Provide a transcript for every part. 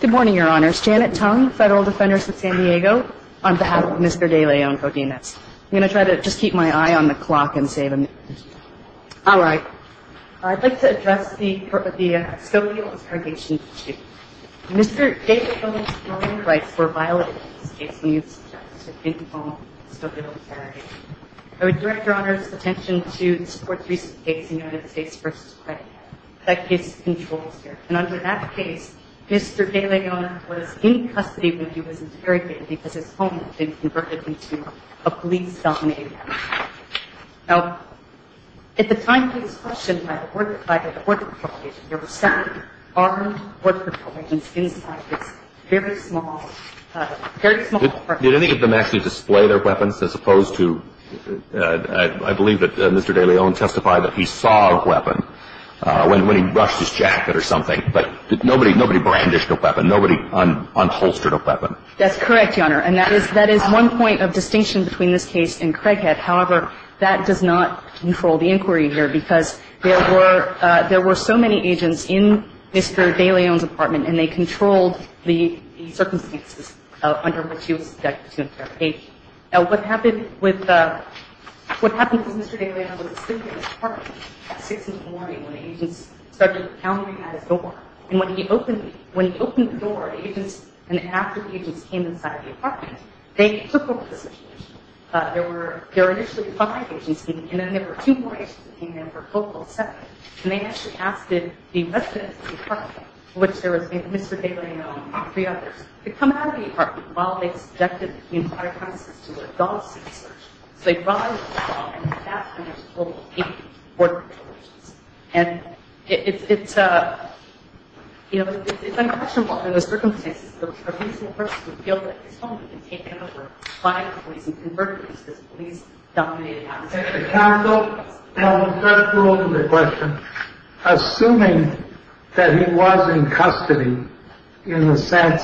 Good morning, Your Honors. Janet Tong, Federal Defenders of San Diego, on behalf of Mr. De Leon-Godinez. I'm going to try to just keep my eye on the clock and save a minute. All right. I'd like to address the Skokieville interrogation. Mr. David Bowman's criminal rights were violated in this case, and he was sentenced to 15 months in Skokieville, San Diego. I would direct Your Honors' attention to this court's recent case, United States v. Craig, that this case controls here. And under that case, Mr. De Leon was in custody when he was interrogated because his home had been converted into a police-dominated area. Now, at the time of this question, by the court proclamation, there were seven armed court proclamations inside this very small, very small apartment. Did any of them actually display their weapons as opposed to – I believe that Mr. De Leon testified that he saw a weapon when he brushed his jacket or something. But nobody brandished a weapon. Nobody unholstered a weapon. That's correct, Your Honor. And that is one point of distinction between this case and Craighead. However, that does not control the inquiry here because there were so many agents in Mr. De Leon's apartment, and they controlled the circumstances under which he was subjected to interrogation. Now, what happened with – what happened was Mr. De Leon was asleep in his apartment at 6 in the morning when agents started pounding at his door. And when he opened – when he opened the door, agents – and after the agents came inside the apartment, they took over the situation. There were – there were initially five agents, and then there were two more agents that came in for a total of seven. And they actually asked the residents of the apartment, which there was Mr. De Leon and three others, to come out of the apartment while they subjected the entire premises to a dog-suit search. So they brought out a dog and stabbed him in his full eight-quarter incisions. And it's – you know, it's unquestionable in those circumstances that a reasonable person would feel that his home had been taken over by the police and converted into this police-dominated house. And the counsel held the first rule to the question. Assuming that he was in custody in the sense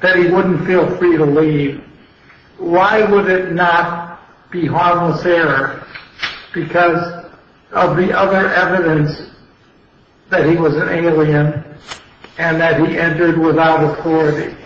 that he wouldn't feel free to leave, why would it not be harmless error because of the other evidence that he was an alien and that he entered without authority?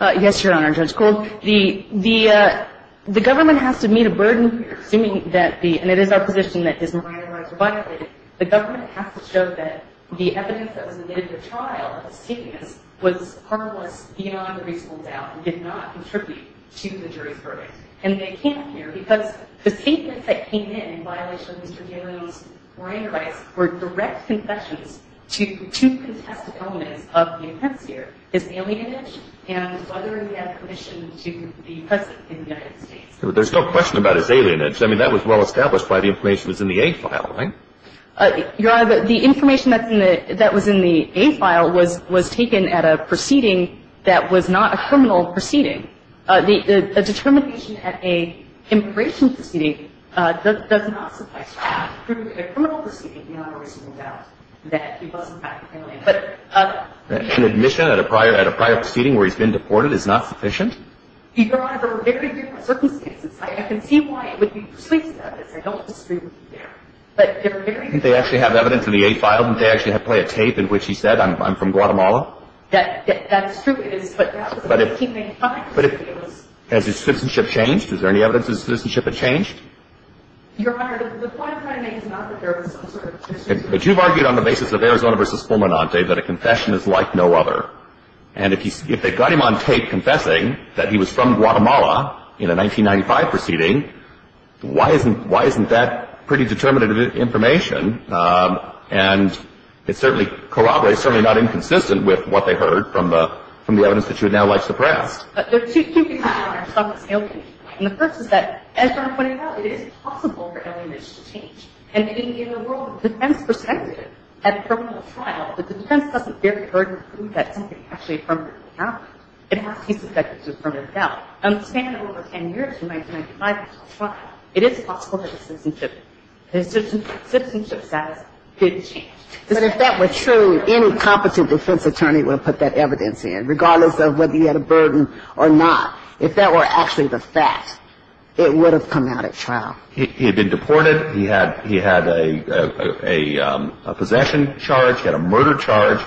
Yes, Your Honor, Judge Gould. The – the government has to meet a burden here, assuming that the – and it is our position that his murder rights were violated. The government has to show that the evidence that was admitted to trial of the statements was harmless beyond a reasonable doubt and did not contribute to the jury's verdict. And they can't here because the statements that came in in violation of Mr. De Leon's murder rights were direct confessions to two contested elements of the offense here. His alienage and whether he had permission to be present in the United States. There's no question about his alienage. I mean, that was well established by the information that was in the A file, right? Your Honor, the information that's in the – that was in the A file was – was taken at a proceeding that was not a criminal proceeding. The determination at an immigration proceeding does not suffice to prove a criminal proceeding beyond a reasonable doubt that he was, in fact, an alien. But – An admission at a prior – at a prior proceeding where he's been deported is not sufficient? Your Honor, there were very different circumstances. I can see why it would be persuasive evidence. I don't disagree with you there. But there were very different circumstances. Didn't they actually have evidence in the A file? Didn't they actually play a tape in which he said, I'm from Guatemala? That – that's true. It is. But that was in 1995. But if – but if – has his citizenship changed? Is there any evidence his citizenship had changed? Your Honor, the point of my name is not that there was some sort of citizenship change. But you've argued on the basis of Arizona v. Fulminante that a confession is like no other. And if he's – if they got him on tape confessing that he was from Guatemala in a 1995 proceeding, why isn't – why isn't that pretty determinative information? And it certainly corroborates – certainly not inconsistent with what they heard from the – from the evidence that you would now like suppressed. But there are two pieces of evidence. And the first is that, as Your Honor pointed out, it is possible for alienation to change. And in the world of defense perspective, at a criminal trial, the defense doesn't bear the burden of proving that somebody actually is from Guatemala. It has to be suspected that he's from Guatemala. And the span of over 10 years from 1995 until trial, it is possible that his citizenship – his citizenship status didn't change. But if that were true, any competent defense attorney would have put that evidence in, regardless of whether he had a burden or not. If that were actually the fact, it would have come out at trial. He had been deported. He had – he had a – a possession charge. He had a murder charge.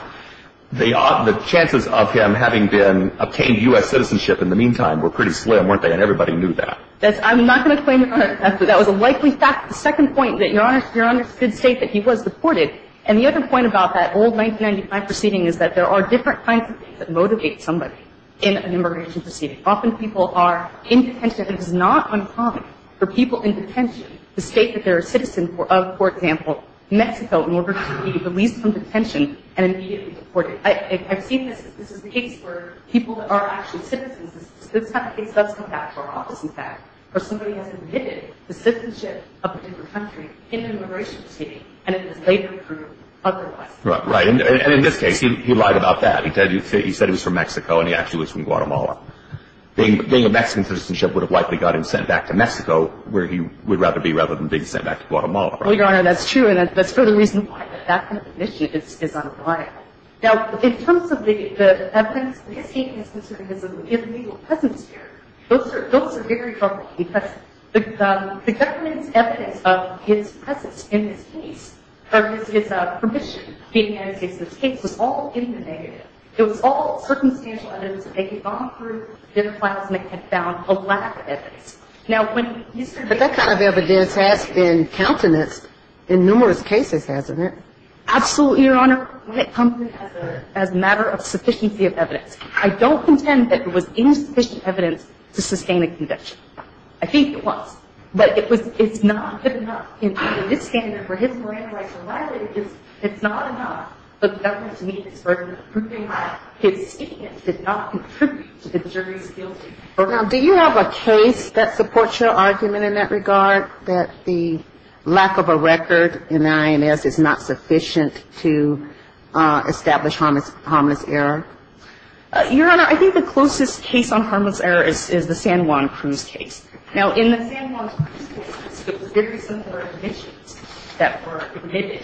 They – the chances of him having been – obtained U.S. citizenship in the meantime were pretty slim, weren't they? And everybody knew that. That's – I'm not going to claim – that was a likely fact. The second point that Your Honor – Your Honor should state that he was deported. And the other point about that old 1995 proceeding is that there are different kinds of things that motivate somebody in an immigration proceeding. Often people are in detention. It is not uncommon for people in detention to state that they're a citizen of, for example, Mexico in order to be released from detention and immediately deported. I've seen this. This is the case for people that are actually citizens. This kind of case does come back to our office, in fact, where somebody has admitted the citizenship of a different country in an immigration proceeding and it was later proved otherwise. Right. And in this case, he lied about that. He said he was from Mexico and he actually was from Guatemala. Being a Mexican citizenship would have likely got him sent back to Mexico where he would rather be rather than being sent back to Guatemala. Well, Your Honor, that's true. And that's for the reason why that kind of admission is unreliable. Now, in terms of the evidence, the case is considered as an illegal presence here. Those are very troubling because the government's evidence of his presence in this case or his permission to be in any case in this case was all in the negative. It was all circumstantial evidence that they had gone through, did the files, and they had found a lack of evidence. Now, when he said he was from Mexico. But that kind of evidence has been countenance in numerous cases, hasn't it? Absolutely, Your Honor. When it comes to as a matter of sufficiency of evidence, I don't contend that it was insufficient evidence to sustain a conviction. I think it was. But it's not good enough. Do you have a case that supports your argument in that regard, that the lack of a record in the INS is not sufficient to establish harmless error? Your Honor, I think the closest case on harmless error is the San Juan Cruz case. Now, in the San Juan Cruz case, it was very similar to the San Juan Cruz case.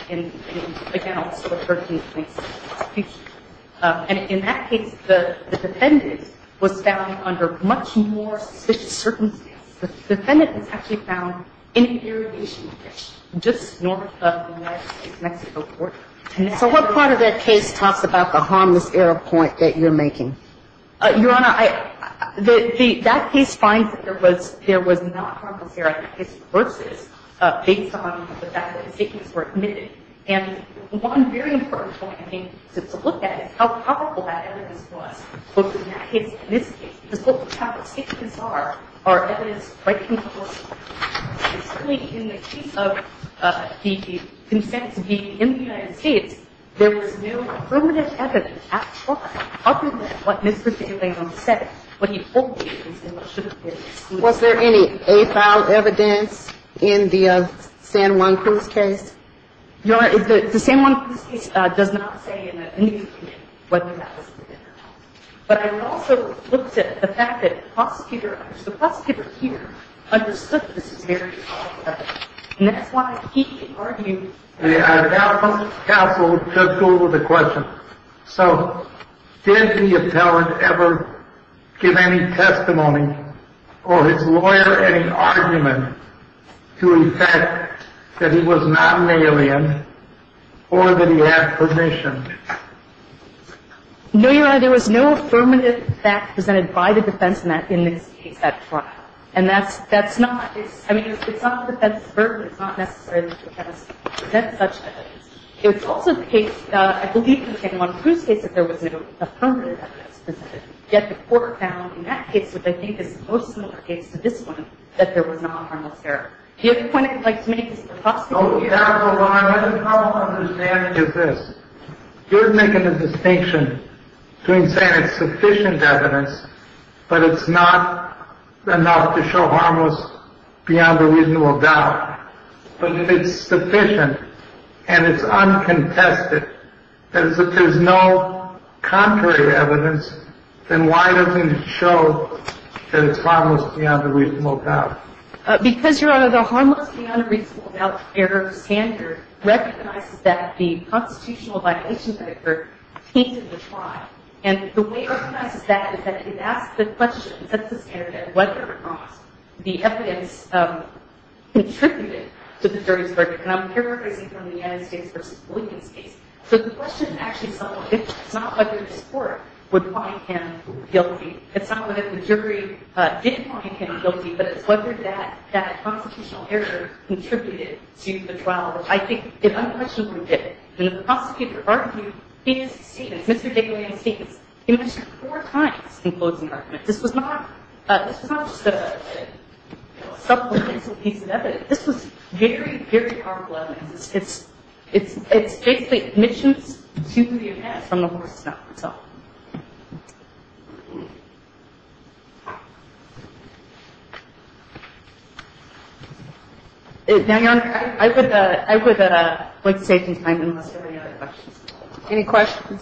In that case, the defendant was found under much more suspicious circumstances. The defendant was actually found in an irrigation ditch just north of the United States-Mexico border. So what part of that case talks about the harmless error point that you're making? Your Honor, that case finds that there was not harmless error. This case is based on the fact that the statements were admitted. And one very important point, I think, is to look at how powerful that evidence was. In this case, the total count of statements are evidence by conclusion. In the case of the consent to be in the United States, there was no permanent evidence at all, other than what Mr. DeLayno said. What he told you is what should have been. Was there any a-file evidence in the San Juan Cruz case? Your Honor, the San Juan Cruz case does not say in any of the cases whether that was the case. But I also looked at the fact that the prosecutor here understood that this is very powerful evidence. And that's why he argued that it was. Counsel took over the question. So did the appellant ever give any testimony or his lawyer any argument to the fact that he was not an alien or that he had permission? No, Your Honor. There was no affirmative fact presented by the defense in this case at trial. And that's not – I mean, it's not the defense's burden. It's not necessary that the defense present such evidence. It was also the case, I believe, in the San Juan Cruz case that there was no affirmative evidence presented. Yet the court found in that case, which I think is the most similar case to this one, that there was not harmless evidence. The other point I'd like to make is that the prosecutor here – No, Your Honor. My understanding is this. You're making a distinction between saying it's sufficient evidence, but it's not enough to show harmless beyond a reasonable doubt. But if it's sufficient and it's uncontested, that is, if there's no contrary evidence, then why doesn't it show that it's harmless beyond a reasonable doubt? Because, Your Honor, the harmless beyond a reasonable doubt error standard recognizes that the constitutional violations that occur And the way it recognizes that is that it asks the question, sets the standard, that whether or not the evidence contributed to the jury's burden. And I'm paraphrasing from the United States v. Williams case. So the question is actually somewhat different. It's not whether this court would find him guilty. It's not whether the jury did find him guilty, but it's whether that constitutional error contributed to the trial, which I think it unquestionably did. And the prosecutor argued his statements, Mr. Dick Williams' statements. He mentioned it four times in closing arguments. This was not just a supplemental piece of evidence. This was very, very powerful evidence. It's basically admissions to the event from the horse's mouth itself. Now, Your Honor, I would like to save some time unless there are any other questions. Any questions?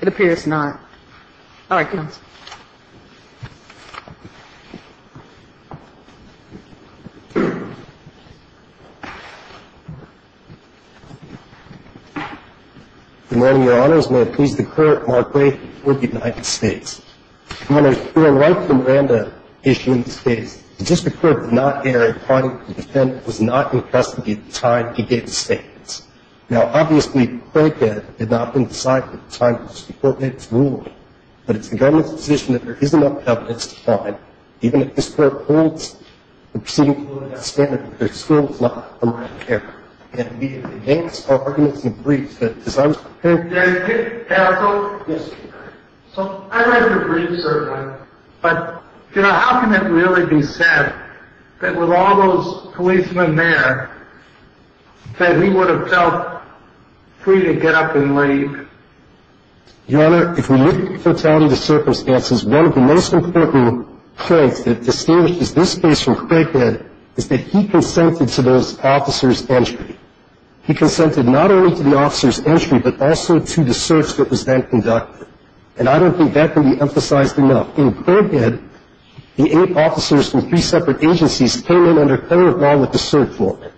It appears not. All right, counsel. Good morning, Your Honors. If I may, Your Honor. The court finds that the defendant, Mr. Williams, may have pleased the court more greatly before the United States. Your Honor, we're right when we're in the issue in the States. The district court did not error in finding that the defendant was not in custody at the time he gave the statements. Now, obviously, the court did not decide that at the time before the state was ruled, but it's the government's position that there is enough evidence to find, even if this court holds the proceedings below that standard. There's still a lot of unwritten care. And we have advanced arguments and briefs that decide... Can I go? Yes. So, I read your briefs, sir. But, you know, how can it really be said that with all those policemen there, that he would have felt free to get up and leave? Your Honor, if we look at fatality to circumstances, one of the most important points that distinguishes this case from Craighead is that he consented to those officers' entry. He consented not only to the officers' entry, but also to the search that was then conducted. And I don't think that can be emphasized enough. In Craighead, the eight officers from three separate agencies came in under current law with the search warrant.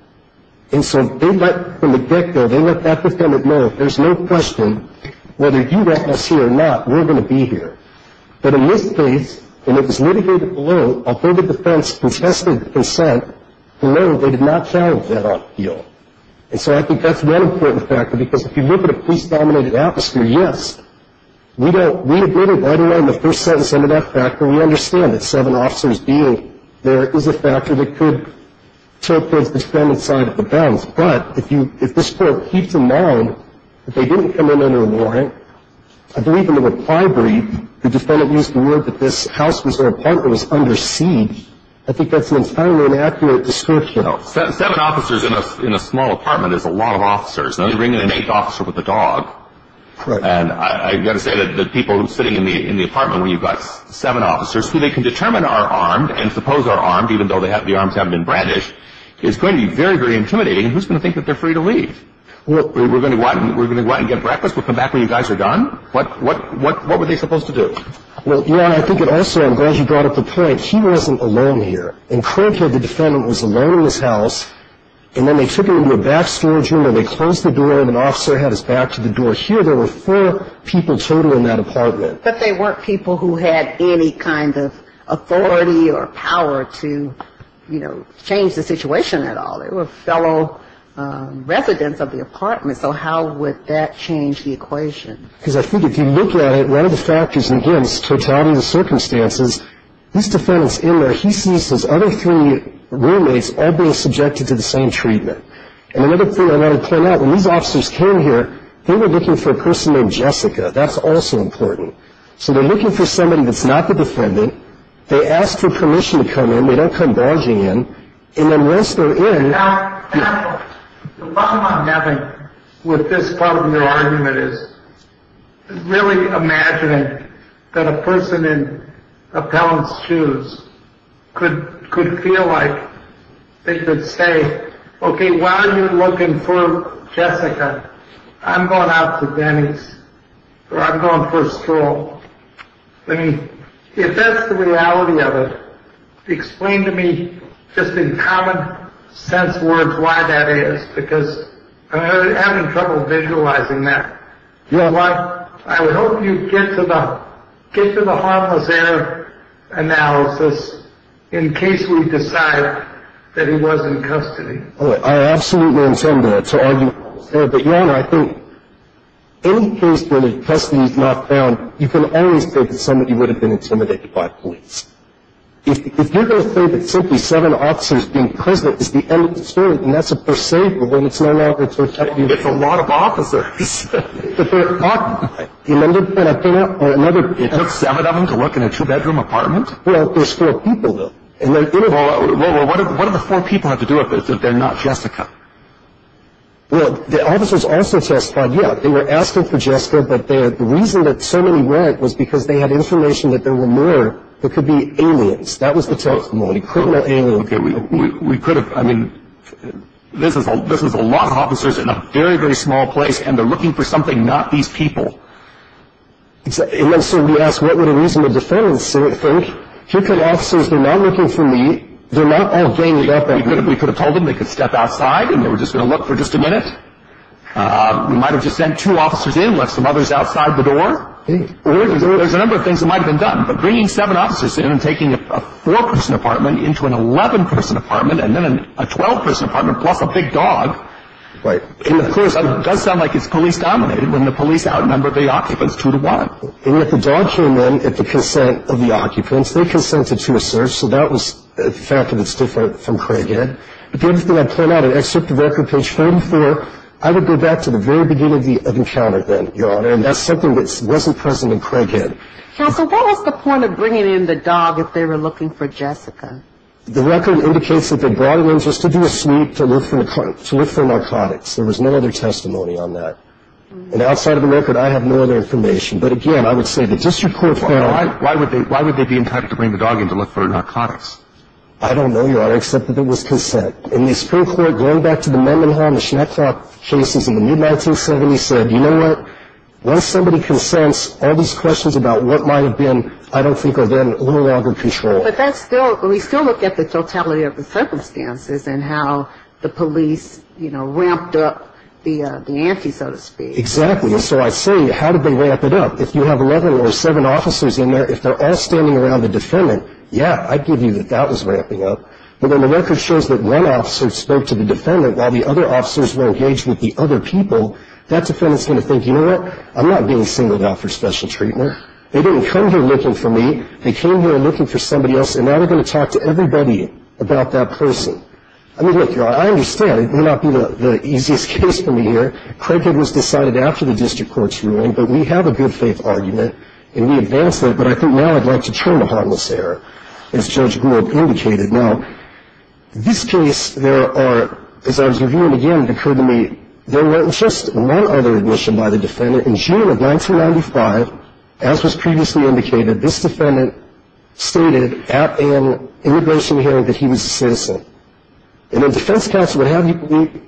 And so they let, from the get-go, they let that defendant know, there's no question, whether you let us here or not, we're going to be here. But in this case, when it was litigated below, although the defense contested the consent below, they did not challenge that appeal. And so I think that's one important factor, because if you look at a police-dominated atmosphere, yes, we admitted right away in the first sentence under that factor, we understand that seven officers being there is a factor that could take place But if this court keeps in mind that they didn't come in under a warrant, I believe in the reply brief, the defendant used the word that this house was their apartment, it was under siege, I think that's an entirely inaccurate description. Seven officers in a small apartment is a lot of officers. They bring in an eighth officer with a dog. And I've got to say that the people sitting in the apartment when you've got seven officers, who they can determine are armed and suppose are armed, even though the arms haven't been brandished, is going to be very, very intimidating. Who's going to think that they're free to leave? We're going to go out and get breakfast? We'll come back when you guys are done? What were they supposed to do? Well, Your Honor, I think it also, I'm glad you brought up the point, he wasn't alone here. And currently the defendant was alone in his house, and then they took him into a back storage room, and they closed the door, and an officer had his back to the door. Here there were four people total in that apartment. But they weren't people who had any kind of authority or power to, you know, change the situation at all. They were fellow residents of the apartment. So how would that change the equation? Because I think if you look at it, one of the factors against totality of the circumstances, this defendant's in there, he sees his other three roommates all being subjected to the same treatment. And another thing I want to point out, when these officers came here, they were looking for a person named Jessica. That's also important. So they're looking for somebody that's not the defendant. They asked for permission to come in. They don't come barging in. And then once they're in... Now, the problem I'm having with this part of your argument is really imagining that a person in appellant's shoes could feel like they could say, okay, while you're looking for Jessica, I'm going out to Denny's. Or I'm going for a stroll. I mean, if that's the reality of it, explain to me, just in common sense words, why that is. Because I'm having trouble visualizing that. I hope you get to the harmless air analysis in case we decide that he was in custody. I absolutely intend to argue that. But, Your Honor, I think any case where the custody is not found, you can always say that somebody would have been intimidated by police. If you're going to say that simply seven officers being present is the end of the story, then that's a per se rule, and it's no longer protected. It's a lot of officers. It took seven of them to work in a two-bedroom apartment? Well, there's four people, though. Well, what do the four people have to do with this if they're not Jessica? Well, the officers also testified, yeah, they were asking for Jessica, but the reason that so many weren't was because they had information that there were more that could be aliens. That was the testimony, criminal aliens. Okay, we could have, I mean, this is a lot of officers in a very, very small place, and they're looking for something, not these people. And so we asked, what would a reasonable defendant think? Here come officers, they're not looking for me. They're not all ganged up on me. We could have told them they could step outside and they were just going to look for just a minute. We might have just sent two officers in, left some others outside the door. There's a number of things that might have been done, but bringing seven officers in and taking a four-person apartment into an 11-person apartment and then a 12-person apartment plus a big dog, it does sound like it's police-dominated when the police outnumber the occupants two to one. And yet the dog came in at the consent of the occupants. They consented to a search, so that was the fact that it's different from Craighead. But the other thing I'd point out, except the record page 34, I would go back to the very beginning of the encounter then, Your Honor, and that's something that wasn't present in Craighead. Counsel, what was the point of bringing in the dog if they were looking for Jessica? The record indicates that they brought her in just to do a sweep to look for narcotics. There was no other testimony on that. And outside of the record, I have no other information. But, again, I would say the district court found... Why would they be entitled to bring the dog in to look for narcotics? I don't know, Your Honor, except that there was consent. In the Supreme Court, going back to the Memmingham, the Schneckoff cases in the mid-1970s, said, you know what, once somebody consents, all these questions about what might have been I don't think are then any longer in control. But that's still, we still look at the totality of the circumstances and how the police, you know, ramped up the ante, so to speak. Exactly. And so I say, how did they ramp it up? If you have 11 or 7 officers in there, if they're all standing around the defendant, yeah, I'd give you that that was ramping up. But when the record shows that one officer spoke to the defendant while the other officers were engaged with the other people, that defendant's going to think, you know what, I'm not being singled out for special treatment. They didn't come here looking for me. They came here looking for somebody else, and now they're going to talk to everybody about that person. I mean, look, Your Honor, I understand. It may not be the easiest case for me here. Craighead was decided after the district court's ruling. But we have a good-faith argument, and we advance that. But I think now I'd like to turn to harmless error, as Judge Gould indicated. Now, this case, there are, as I was reviewing again, it occurred to me, there was just one other admission by the defendant. In June of 1995, as was previously indicated, this defendant stated at an immigration hearing that he was a citizen. And the defense counsel would have you believe,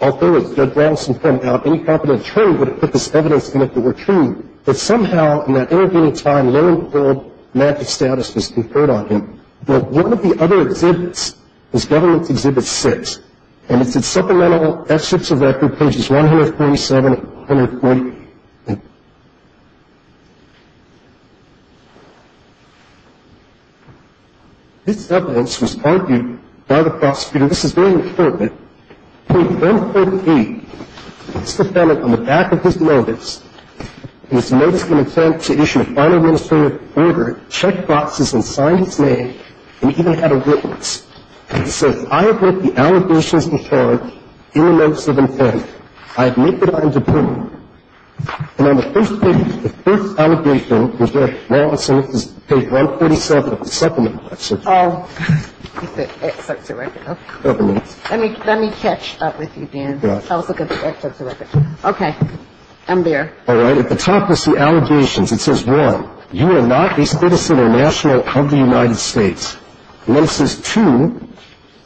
although, as Judge Rattleson pointed out, any competent attorney would have put this evidence in if it were true, that somehow in that intervening time, low and poor manhood status was conferred on him. But one of the other exhibits is Government Exhibit 6. And it's at Supplemental F6 of Record, pages 147 and 148. This evidence was argued by the prosecutor. This is very important. Page 148, this defendant, on the back of his notice, in his notice of intent to issue a final administrative order, checked boxes and signed his name and even had a witness. He says, I have read the allegations before in the notes of intent. I admit that I am dependent. And on the first page, the first allegation, which is now on page 147 of the Supplemental F6. Oh. It's at Excerpts of Record. Let me catch up with you, Dan. Yeah. I was looking at the Excerpts of Record. Okay. I'm there. All right. At the top is the allegations. It says, one, you are not a citizen or national of the United States. And then it says, two,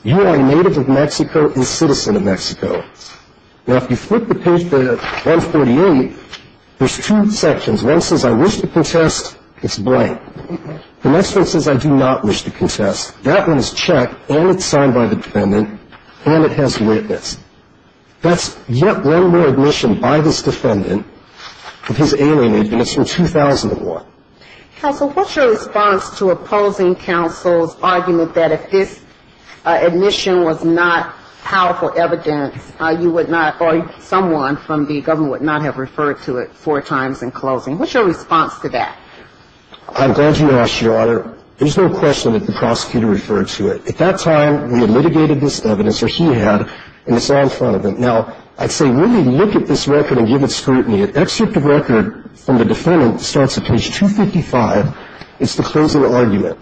you are a native of Mexico and a citizen of Mexico. Now, if you flip the page to 148, there's two sections. One says, I wish to contest. It's blank. The next one says, I do not wish to contest. That one is checked, and it's signed by the defendant, and it has a witness. That's yet one more admission by this defendant of his alienation, and it's from 2001. Counsel, what's your response to opposing counsel's argument that if this admission was not powerful evidence, you would not, or someone from the government would not have referred to it four times in closing? What's your response to that? I'm glad you asked, Your Honor. There's no question that the prosecutor referred to it. At that time, we had litigated this evidence, or he had, and it's all in front of him. Now, I'd say really look at this record and give it scrutiny. Excerpt of Record from the defendant starts at page 255. It's the closing argument.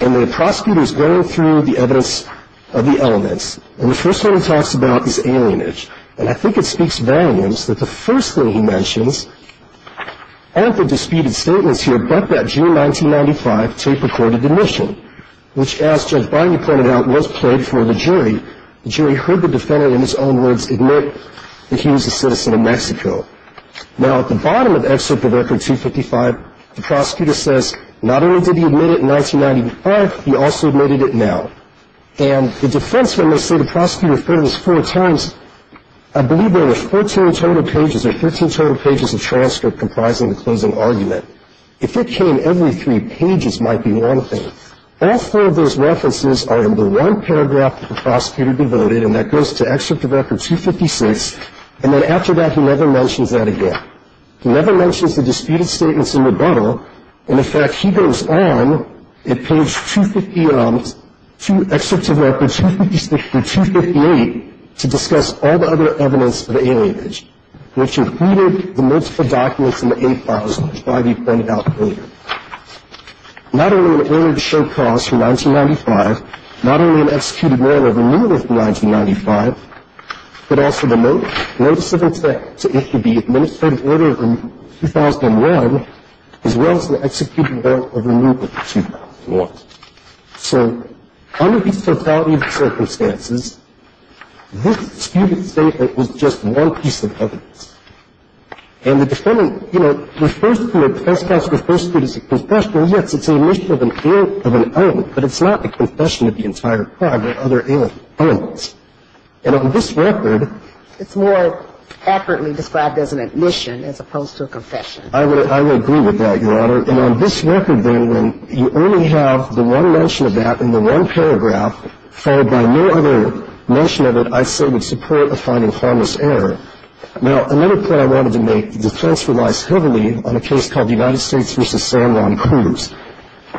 And the prosecutor is going through the evidence of the elements. And the first one he talks about is alienage. And I think it speaks volumes that the first thing he mentions aren't the disputed statements here, but that June 1995 tape-recorded admission, which, as Judge Biden pointed out, was played for the jury. The jury heard the defendant, in his own words, admit that he was a citizen of Mexico. Now, at the bottom of Excerpt of Record 255, the prosecutor says not only did he admit it in 1995, he also admitted it now. And the defenseman may say the prosecutor referred to this four times. I believe there were 14 total pages or 13 total pages of transcript comprising the closing argument. If it came every three pages, it might be one thing. All four of those references are in the one paragraph that the prosecutor devoted, and that goes to Excerpt of Record 256. And then after that, he never mentions that again. He never mentions the disputed statements in rebuttal. And, in fact, he goes on at page 250 of Excerpt of Record 256 through 258 to discuss all the other evidence of alienage, which included the multiple documents in the A files, which Biden pointed out later. Not only were aliens show cause for 1995, not only an executed war over New York in 1995, but also the notice of intent to issue the administrative order in 2001, as well as the executed war over New York in 2001. So under these totality of circumstances, this disputed statement was just one piece of evidence. And the defendant, you know, refers to it, the defense counsel refers to it as a confession. Now, yes, it's an admission of an error of an element, but it's not the confession of the entire crime or other elements. And on this record, it's more accurately described as an admission as opposed to a confession. I would agree with that, Your Honor. And on this record, then, when you only have the one mention of that in the one paragraph, followed by no other mention of it, I say would support a finding harmless error. Now, another point I wanted to make. The defense relies heavily on a case called the United States v. San Juan Cruz.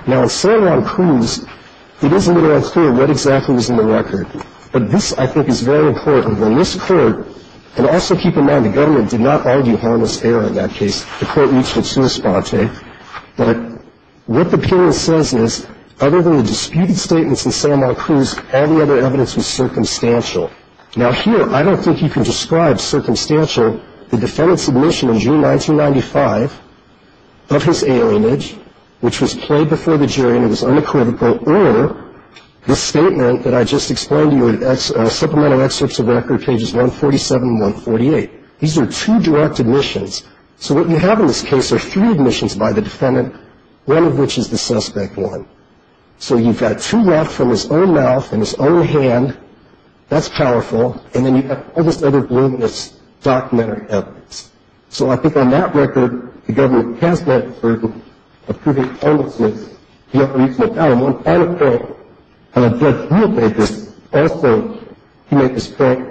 Now, in San Juan Cruz, it is a little unclear what exactly was in the record. But this, I think, is very important. In this court, and also keep in mind, the government did not argue harmless error in that case. The court reached it to a sponte. But what the appealant says is, other than the disputed statements in San Juan Cruz, all the other evidence was circumstantial. Now, here, I don't think you can describe circumstantial the defendant's admission in June 1995 of his alienage, which was played before the jury and was unacoustical, or the statement that I just explained to you in supplemental excerpts of the record, pages 147 and 148. These are two direct admissions. So what you have in this case are three admissions by the defendant, one of which is the suspect one. So you've got two left from his own mouth and his own hand. That's powerful. And then you've got all this other voluminous documentary evidence. So I think on that record, the government has that burden of proving harmlessness. You know, when you look now, in one final court, and I'm glad you obeyed this, also, you made this point,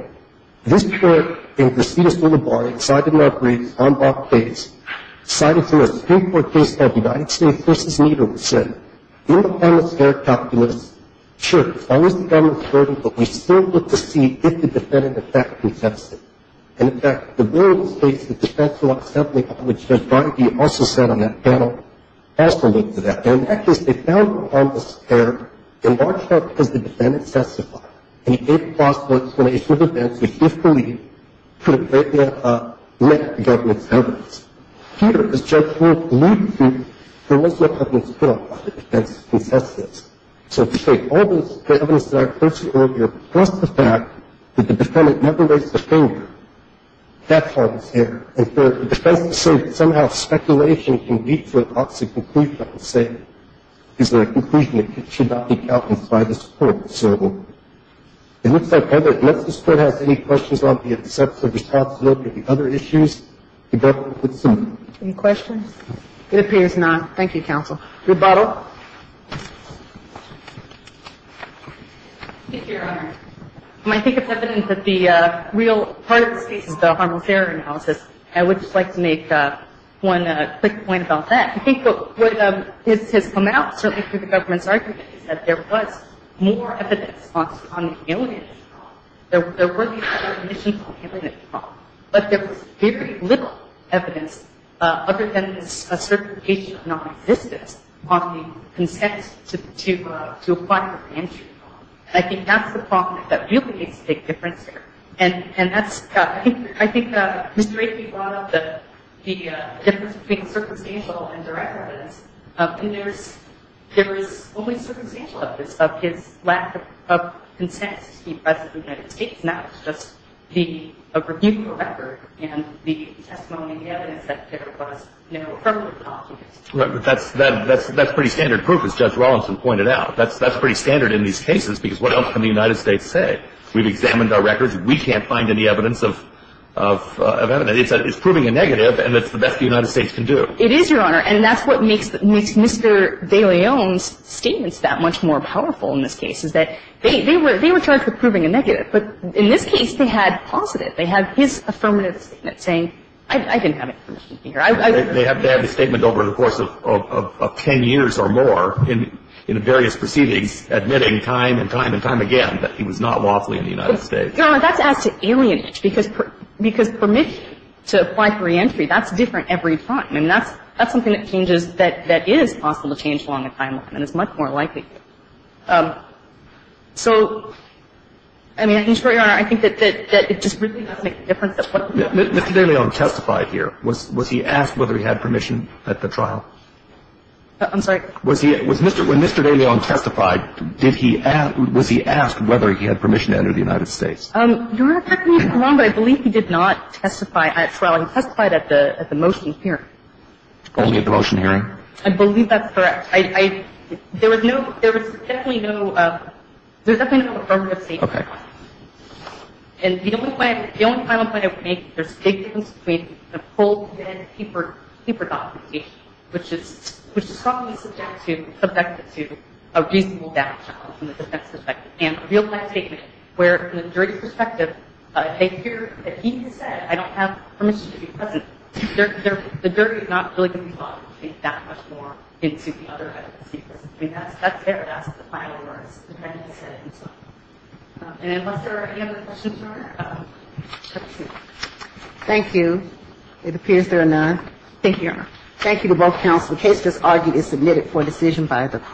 this court in Casitas, L.A., decided in our briefs on that case, decided for a Supreme Court case called United States v. Needham, said, sure, as long as the government's burdened, but we still look to see if the defendant, in fact, can testify. And, in fact, the board of state's defense law assembly, which Judge Bridey also sat on that panel, also looked at that. And in that case, they found harmlessness there, in large part because the defendant testified, and he gave plausible explanation of events which, if believed, could have greatly met the government's evidence. Here, as Judge Moore alluded to, there was no evidence put on why the defense contested. So, in fact, all the evidence that I refer to earlier, plus the fact that the defendant never raised a finger, that harm is there. And for the defense to say that somehow speculation can lead to an opposite conclusion, I would say is a conclusion that should not be countenanced by this court, so to speak. It looks like unless this court has any questions on the obsessive responsibility of the other issues, the court would assume. Any questions? It appears not. Thank you, counsel. Rebuttal. Thank you, Your Honor. I think it's evident that the real part of this case is the harmless error analysis. I would just like to make one quick point about that. I think what has come out, certainly through the government's argument, is that there was more evidence on the alienation problem. There were these other conditions on the alienation problem. But there was very little evidence other than this certification of non-existence on the consent to apply for reentry. And I think that's the problem that really makes a big difference here. And that's, I think Mr. Akin brought up the difference between circumstantial and direct evidence. And there is only circumstantial evidence of his lack of consent to be President of the And that's why it's so important to examine the evidence, the evidence that there was no record and the testimony, the evidence that there was no appropriate document. Right. But that's pretty standard proof, as Judge Rollins pointed out. That's pretty standard in these cases. Because what else can the United States say? We've examined our records. We can't find any evidence of evidence. It's proving a negative, and it's the best the United States can do. It is, Your Honor. And that's what makes Mr. de León's statements that much more powerful in this case, is that they were charged with proving a negative. But in this case, they had positive. They had his affirmative statement saying, I didn't have information here. They have a statement over the course of ten years or more in various proceedings admitting time and time and time again that he was not lawfully in the United States. So, Your Honor, that's as to alienate, because permission to apply for reentry, that's different every time. I mean, that's something that changes that is possible to change along the timeline, and it's much more likely. So, I mean, I think, Your Honor, I think that it just really doesn't make a difference that what the judge said. Mr. de León testified here. Was he asked whether he had permission at the trial? I'm sorry? Was he at Mr. — when Mr. de León testified, did he ask — was he asked whether he had permission to enter the United States? Your Honor, correct me if I'm wrong, but I believe he did not testify at trial. He testified at the motion hearing. Only at the motion hearing? I believe that's correct. I — there was no — there was definitely no — there was definitely no affirmative statement. Okay. And the only point — the only final point I would make is there's a big difference between the full and the paper documentation, which is strongly subjected to a reasonable downshot from the defense perspective, and a real-life statement where, from the jury's perspective, they hear that he has said, I don't have permission to be present. The jury is not really going to be talking that much more into the other evidence he presented. I mean, that's there. That's the final words. The defendant said it himself. And unless there are any other questions, Your Honor, let's see. Thank you. It appears there are none. Thank you, Your Honor. Thank you to both counsel. The case just argued is submitted for decision by the court.